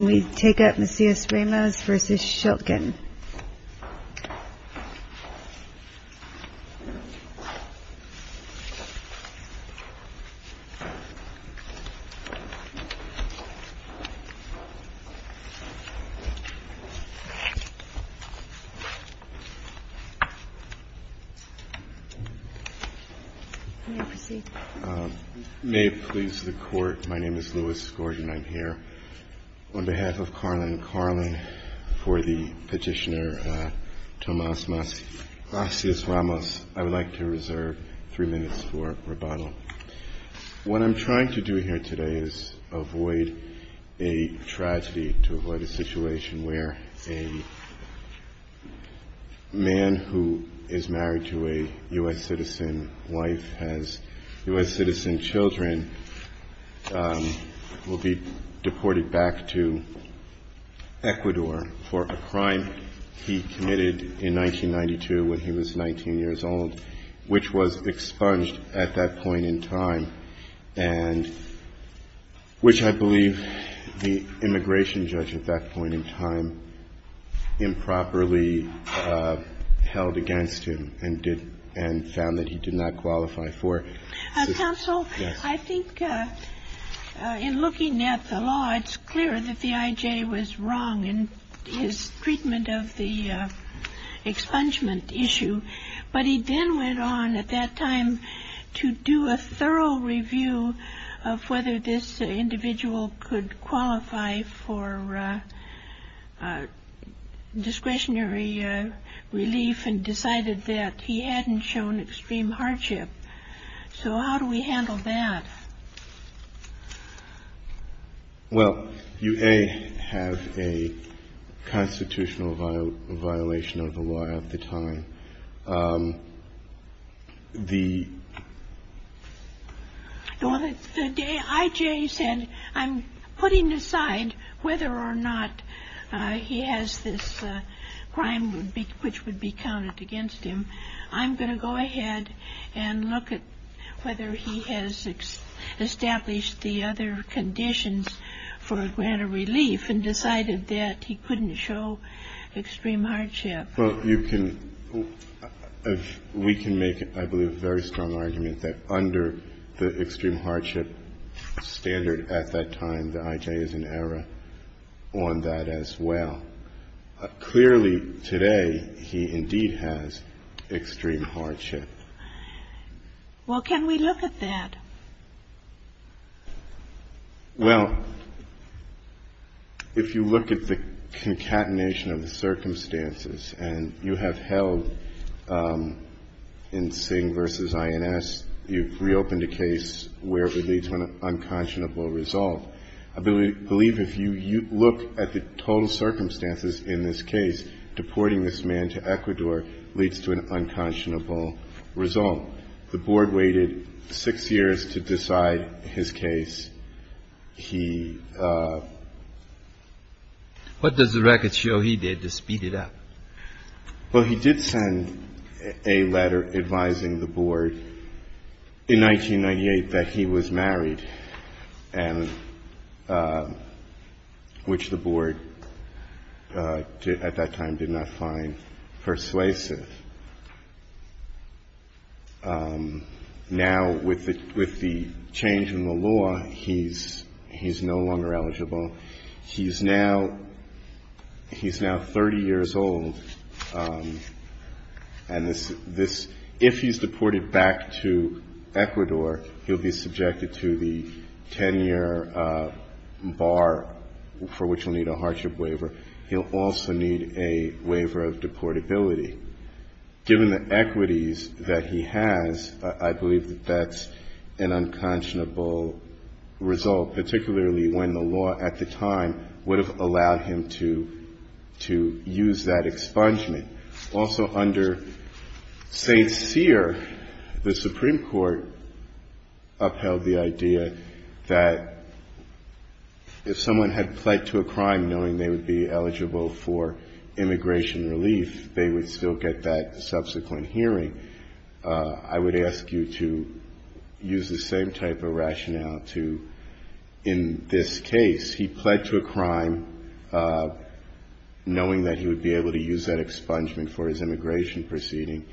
Can we take up Macias-Ramos v. Schiltgen? May it please the Court, my name is Lewis Scordia and I'm here on behalf of Carlin & Carlin for the petitioner Tomas Macias-Ramos. I would like to reserve three minutes for rebuttal. What I'm trying to do here today is avoid a tragedy, to avoid a situation where a man who is married to a U.S. citizen wife has U.S. citizen children will be deported back to Ecuador for a crime he committed in 1992 when he was 19 years old, which was expunged at that point in time and which I believe the immigration judge at that point in time improperly held against him and did and found that he did not qualify for. Counsel, I think in looking at the law, it's clear that the I.J. was wrong in his treatment of the expungement issue, but he then went on at that time to do a thorough review of whether this individual could qualify for discretionary relief and decided that he hadn't shown extreme hardship, so how do we handle that? Well, you A, have a constitutional violation of the law at the time. The I.J. said, I'm putting aside whether or not he has this crime which would be counted against him. I'm going to go ahead and look at whether he has established the other conditions for a grant of relief and decided that he couldn't show extreme hardship. Well, you can, we can make, I believe, a very strong argument that under the extreme hardship standard at that time, the I.J. is in error on that as well. Clearly, today, he indeed has extreme hardship. Well, can we look at that? Well, if you look at the concatenation of the circumstances and you have held in Singh v. INS, you've reopened a case where it leads to an unconscionable result. I believe if you look at the total circumstances in this case, deporting this man to Ecuador leads to an unconscionable result. The Board waited six years to decide his case. He. What does the record show he did to speed it up? Well, he did send a letter advising the Board in 1998 that he was married and which the Board at that time did not find persuasive. Now, with the with the change in the law, he's he's no longer eligible. He's now he's now 30 years old. And this this if he's deported back to Ecuador, he'll be subjected to the 10 year bar for which will need a hardship waiver. He'll also need a waiver of deportability. Given the equities that he has, I believe that that's an unconscionable result, particularly when the law at the time would have allowed him to to use that expungement. Also under St. Cyr, the Supreme Court upheld the idea that if someone had pled to a crime knowing they would still get that subsequent hearing, I would ask you to use the same type of rationale to in this case, he pled to a crime knowing that he would be able to use that expungement for his immigration proceeding.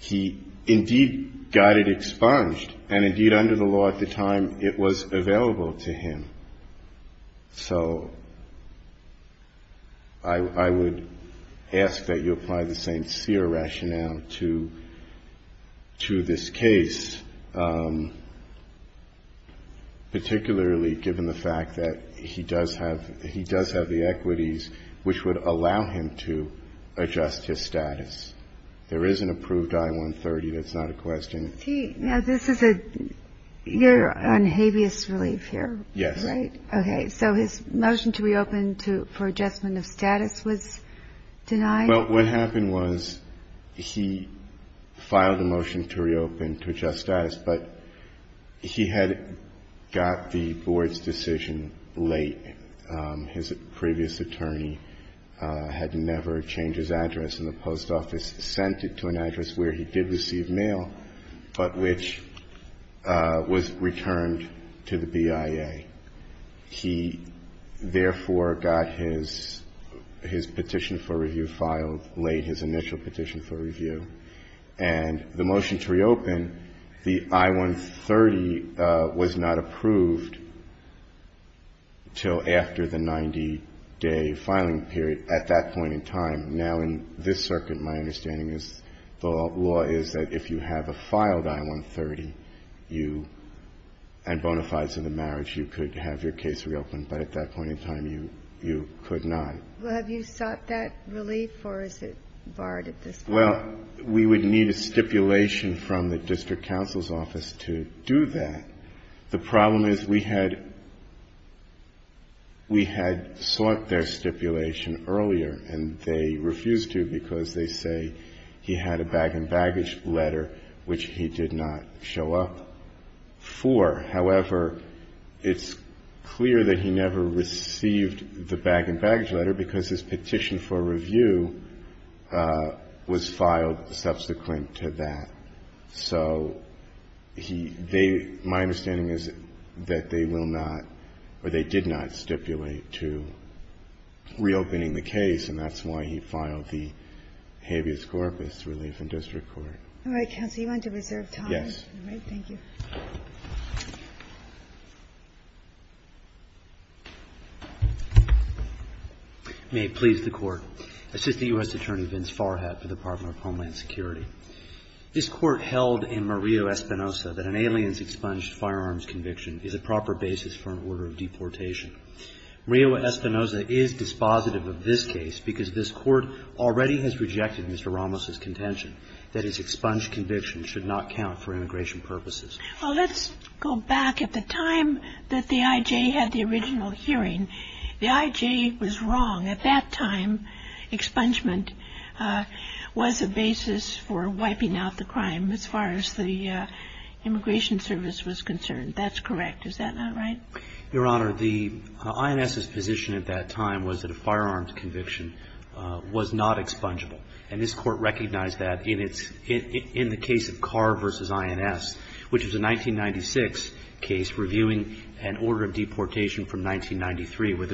He indeed got it expunged and indeed under the law at the time it was available to him. So. I would ask that you apply the same Cyr rationale to to this case, particularly given the fact that he does have he does have the equities which would allow him to adjust his status. There is an approved I-130. That's not a question. Now, this is a you're on habeas relief here. Yes. OK, so his motion to reopen to for adjustment of status was denied. Well, what happened was he filed a motion to reopen to adjust status, but he had got the board's decision late. His previous attorney had never changed his address in the post office, sent it to an attorney, which was returned to the BIA. He therefore got his his petition for review filed late, his initial petition for review and the motion to reopen the I-130 was not approved till after the 90 day filing period at that point in time. Now, in this circuit, my understanding is the law is that if you have a filed I-130, you and bona fides in the marriage, you could have your case reopened. But at that point in time, you you could not. Well, have you sought that relief or is it barred at this? Well, we would need a stipulation from the district counsel's office to do that. The problem is we had. We had sought their stipulation earlier and they refused to because they say he had a bag and baggage letter, which he did not show up for. However, it's clear that he never received the bag and baggage letter because his petition for review was filed subsequent to that. So he they my understanding is that they will not or they did not stipulate to reopening the case, and that's why he filed the habeas corpus relief in district court. All right, counsel, you want to reserve time? Yes. Thank you. May it please the Court. Assistant U.S. Attorney Vince Farhad for the Department of Homeland Security. This court held in Murillo Espinosa that an alien's expunged firearms conviction is a proper basis for an order of deportation. Murillo Espinosa is dispositive of this case because this court already has rejected Mr. Ramos's contention that his expunged conviction should not count for immigration purposes. Well, let's go back at the time that the I.J. had the original hearing. The I.J. was wrong. At that time, expungement was a basis for wiping out the crime as far as the immigration service was concerned. That's correct. Is that not right? Your Honor, the I.N.S.'s position at that time was that a firearms conviction was not expungable, and this court recognized that in the case of Carr v. I.N.S., which was a 1996 case reviewing an order of deportation from 1993, where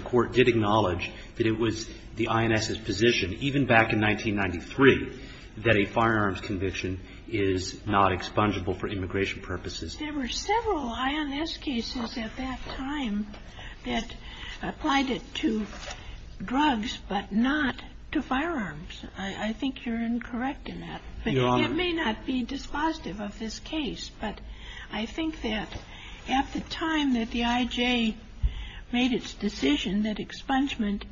the I.N.S.'s position, even back in 1993, that a firearms conviction is not expungable for immigration purposes. There were several I.N.S. cases at that time that applied it to drugs, but not to firearms. I think you're incorrect in that. But it may not be dispositive of this case, but I think that at the time that the I.J. made its decision that expungement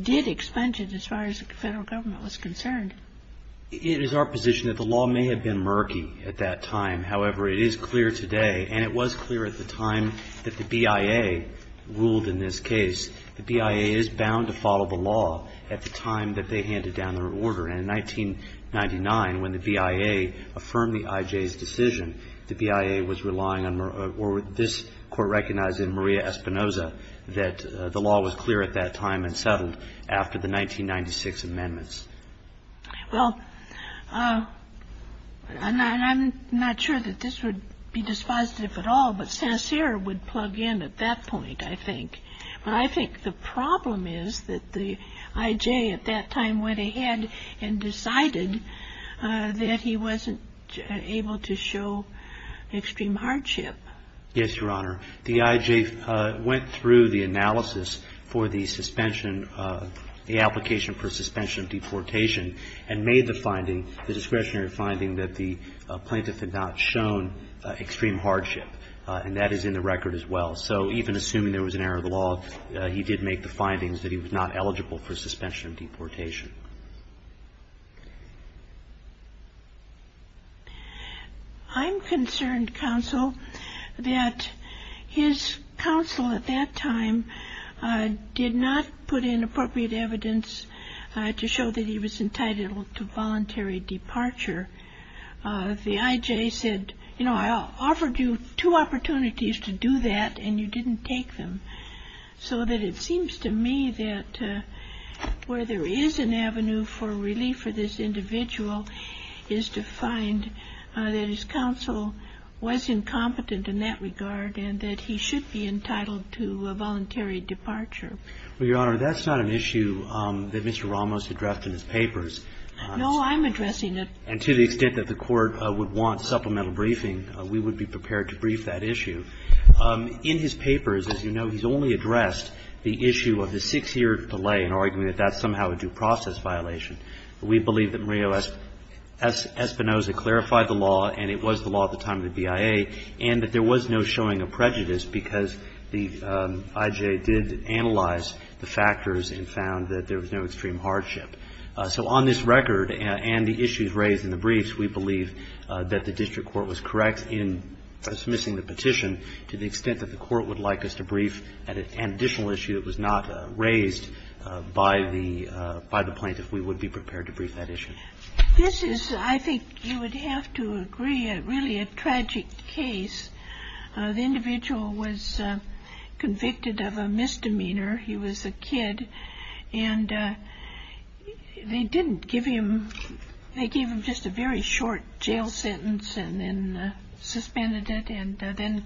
did expunge it as far as the federal government was concerned. It is our position that the law may have been murky at that time. However, it is clear today, and it was clear at the time that the BIA ruled in this case, the BIA is bound to follow the law at the time that they handed down their order. And in 1999, when the BIA affirmed the I.J.'s decision, the BIA was relying on, or this court recognized in Maria Espinoza, that the law was clear at that time and settled after the 1996 amendments. Well, and I'm not sure that this would be dispositive at all, but Sincere would plug in at that point, I think. But I think the problem is that the I.J. at that time went ahead and decided that he wasn't able to show extreme hardship. Yes, Your Honor. The I.J. went through the analysis for the suspension, the application for suspension of deportation, and made the finding, the discretionary finding, that the plaintiff had not shown extreme hardship. And that is in the record as well. So even assuming there was an error of the law, he did make the findings that he was not eligible for suspension of deportation. I'm concerned, counsel, that his counsel at that time did not put in appropriate evidence to show that he was entitled to voluntary departure. The I.J. said, you know, I offered you two opportunities to do that and you didn't take them. So that it seems to me that where there is an avenue for relief for this individual is to find that his counsel was incompetent in that regard and that he should be entitled to a voluntary departure. Well, Your Honor, that's not an issue that Mr. Ramos addressed in his papers. No, I'm addressing it. And to the extent that the Court would want supplemental briefing, we would be prepared to brief that issue. In his papers, as you know, he's only addressed the issue of the six-year delay in arguing that that's somehow a due process violation. We believe that Murillo Espinoza clarified the law, and it was the law at the time of the BIA, and that there was no showing of prejudice because the I.J. did analyze the factors and found that there was no extreme hardship. So on this record and the issues raised in the briefs, we believe that the district court was correct in dismissing the petition to the extent that the Court would like us to brief an additional issue that was not raised by the plaintiff. We would be prepared to brief that issue. This is, I think you would have to agree, really a tragic case. The individual was convicted of a misdemeanor. He was a kid, and they didn't give him, they gave him just a very short jail sentence and then suspended it and then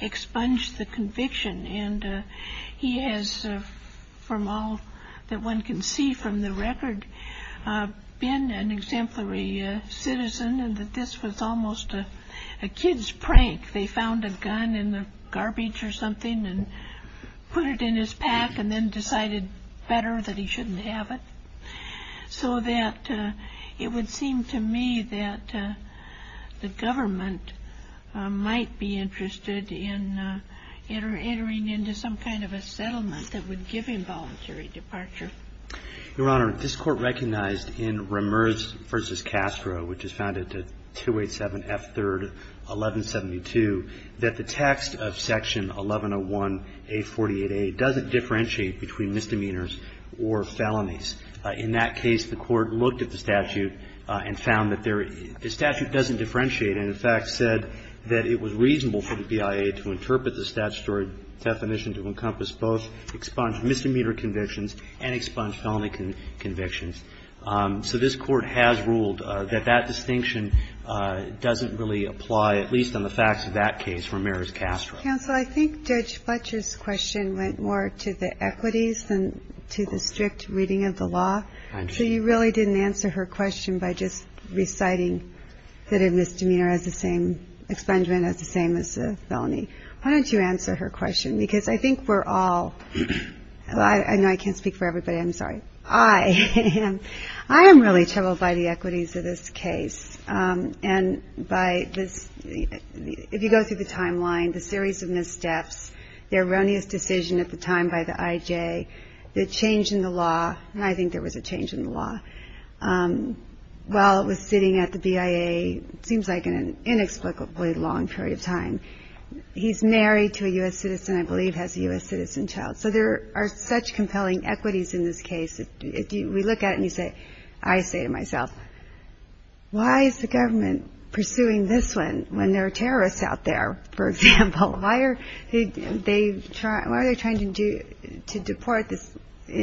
expunged the conviction. And he has, from all that one can see from the record, been an exemplary citizen, and that this was almost a kid's prank. They found a gun in the garbage or something and put it in his pack and then decided better that he shouldn't have it. So that it would seem to me that the government might be interested in entering into some kind of a settlement that would give him voluntary departure. Your Honor, this Court recognized in Ramers v. Castro, which is found at 287 F. 3rd, 1172, that the text of section 1101A48A doesn't differentiate between misdemeanors or felonies. In that case, the Court looked at the statute and found that the statute doesn't differentiate and, in fact, said that it was reasonable for the BIA to interpret the statutory definition to encompass both expunged misdemeanor convictions and expunged felony convictions. So this Court has ruled that that distinction doesn't really apply, at least on the facts of that case, for Ramers v. Castro. Counsel, I think Judge Fletcher's question went more to the equities than to the strict reading of the law. So you really didn't answer her question by just reciting that a misdemeanor has the same expungement as the same as a felony. Why don't you answer her question? Because I think we're all, I know I can't speak for everybody, I'm sorry, I am really troubled by the equities of this case. And if you go through the timeline, the series of missteps, the erroneous decision at the IJ, the change in the law, and I think there was a change in the law, while it was sitting at the BIA, it seems like in an inexplicably long period of time, he's married to a U.S. citizen, I believe has a U.S. citizen child. So there are such compelling equities in this case that we look at it and you say, I say to myself, why is the government pursuing this one when there are terrorists out there, for example? Why are they trying to deport this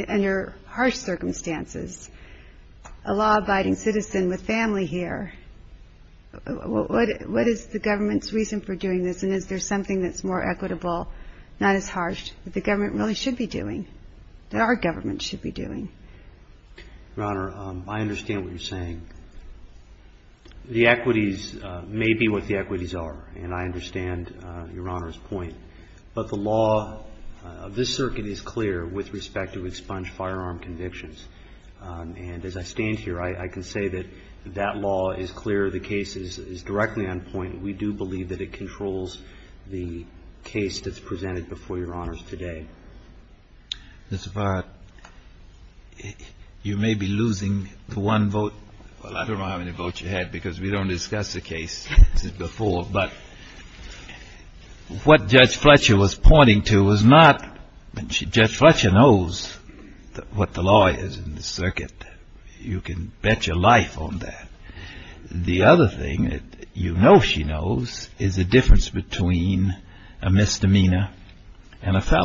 under harsh circumstances? A law-abiding citizen with family here, what is the government's reason for doing this? And is there something that's more equitable, not as harsh, that the government really should be doing, that our government should be doing? Your Honor, I understand what you're saying. The equities may be what the equities are, and I understand Your Honor's point, but the law of this circuit is clear with respect to expunged firearm convictions. And as I stand here, I can say that that law is clear, the case is directly on point. We do believe that it controls the case that's presented before Your Honor today. Mr. Farratt, you may be losing the one vote. Well, I don't know how many votes you had because we don't discuss the case before. But what Judge Fletcher was pointing to was not, Judge Fletcher knows what the law is in this circuit. You can bet your life on that. The other thing that you know she knows is the difference between a misdemeanor and a fact.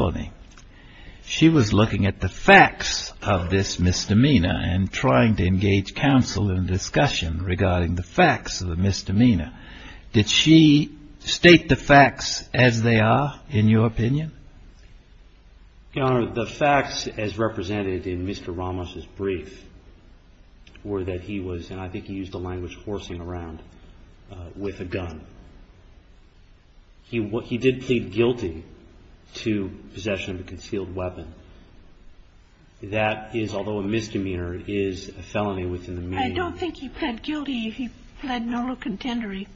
She was looking at the facts of this misdemeanor and trying to engage counsel in discussion regarding the facts of the misdemeanor. Did she state the facts as they are, in your opinion? Your Honor, the facts as represented in Mr. Ramos' brief were that he was, and I think he did plead guilty to possession of a concealed weapon. That is, although a misdemeanor, is a felony within the meaning. I don't think he pled guilty. He pled no contendery.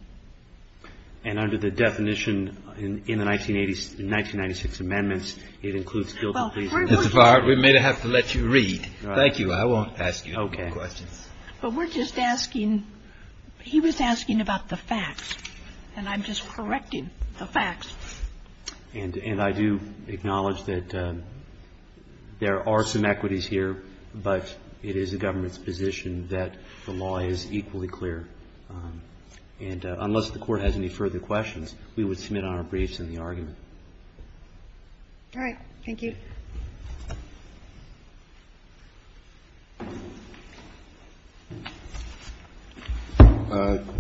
And under the definition in the 1986 amendments, it includes guilty plea. Ms. Farratt, we may have to let you read. Thank you. I won't ask you any more questions. But we're just asking, he was asking about the facts, and I'm just correcting the facts. And I do acknowledge that there are some equities here, but it is the government's position that the law is equally clear. And unless the Court has any further questions, we would submit our briefs in the argument. All right. Thank you.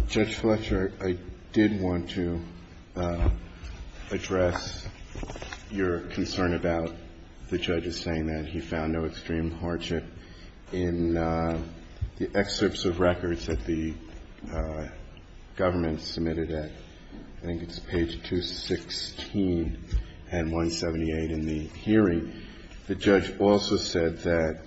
Judge Fletcher, I did want to address your concern about the judge's saying that he found no extreme hardship in the excerpts of records that the government submitted at, I think it's page 216 and 178 in the hearing. The judge also said that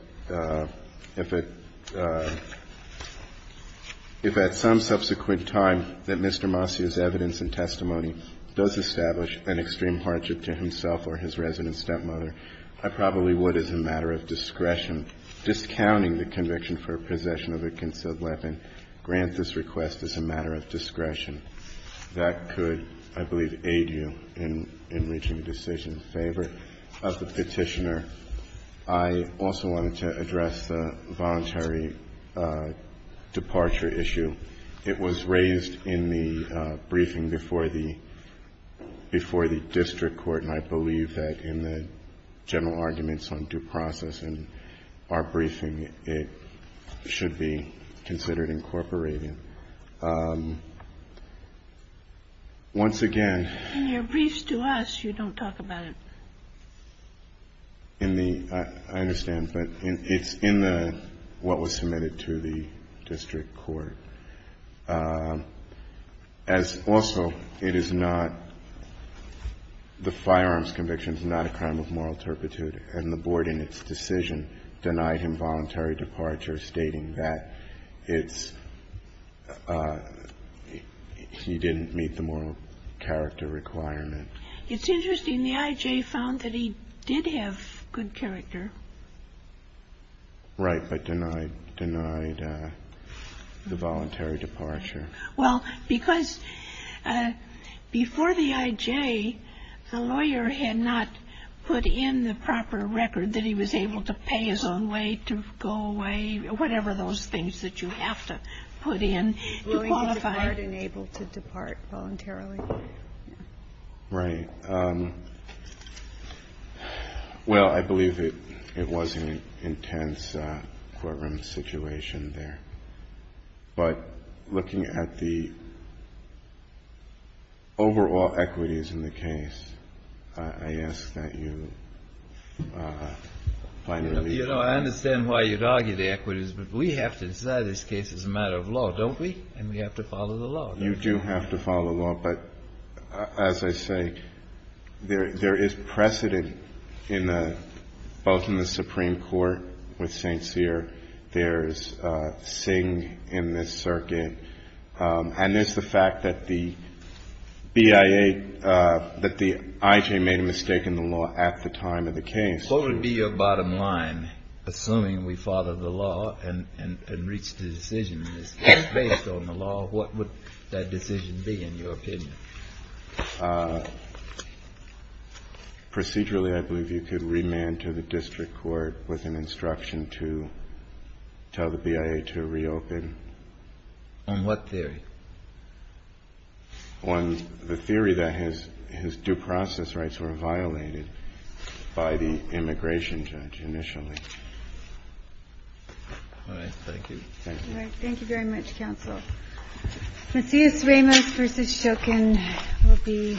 if at some subsequent time that Mr. Masi's evidence and testimony does establish an extreme hardship to himself or his resident stepmother, I probably would, as a matter of discretion, discounting the conviction for possession of a concealed weapon, grant this request as a matter of discretion that could, I believe, aid you in reaching a decision in favor of the Petitioner. I also wanted to address the voluntary departure issue. It was raised in the briefing before the district court, and I believe that in the general arguments on due process in our briefing, it should be considered incorporated. I'm not sure if that's what you're saying. Once again. In your briefs to us, you don't talk about it. In the – I understand, but it's in the – what was submitted to the district court. As also, it is not – the firearms conviction is not a crime of moral turpitude, and the board in its decision denied him voluntary departure, stating that it's – he didn't meet the moral character requirement. It's interesting. The I.J. found that he did have good character. Right. But denied – denied the voluntary departure. Well, because before the I.J., the lawyer had not put in the proper record that he was able to pay his own way to go away, whatever those things that you have to put in to qualify. Willing to depart and able to depart voluntarily. Right. Well, I believe it was an intense courtroom situation there. But looking at the overall equities in the case, I ask that you finally – You know, I understand why you'd argue the equities, but we have to decide this case as a matter of law, don't we? And we have to follow the law. You do have to follow the law. But as I say, there is precedent in the – both in the Supreme Court with St. Cyr. There's Singh in this circuit. And there's the fact that the BIA – that the I.J. made a mistake in the law at the time of the case. What would be your bottom line, assuming we followed the law and reached a decision based on the law? What would that decision be, in your opinion? Procedurally, I believe you could remand to the district court with an instruction to tell the BIA to reopen. On what theory? On the theory that his due process rights were violated by the immigration judge initially. All right. Thank you. Thank you. Thank you very much, counsel. Macias Ramos v. Shoken will be submitted.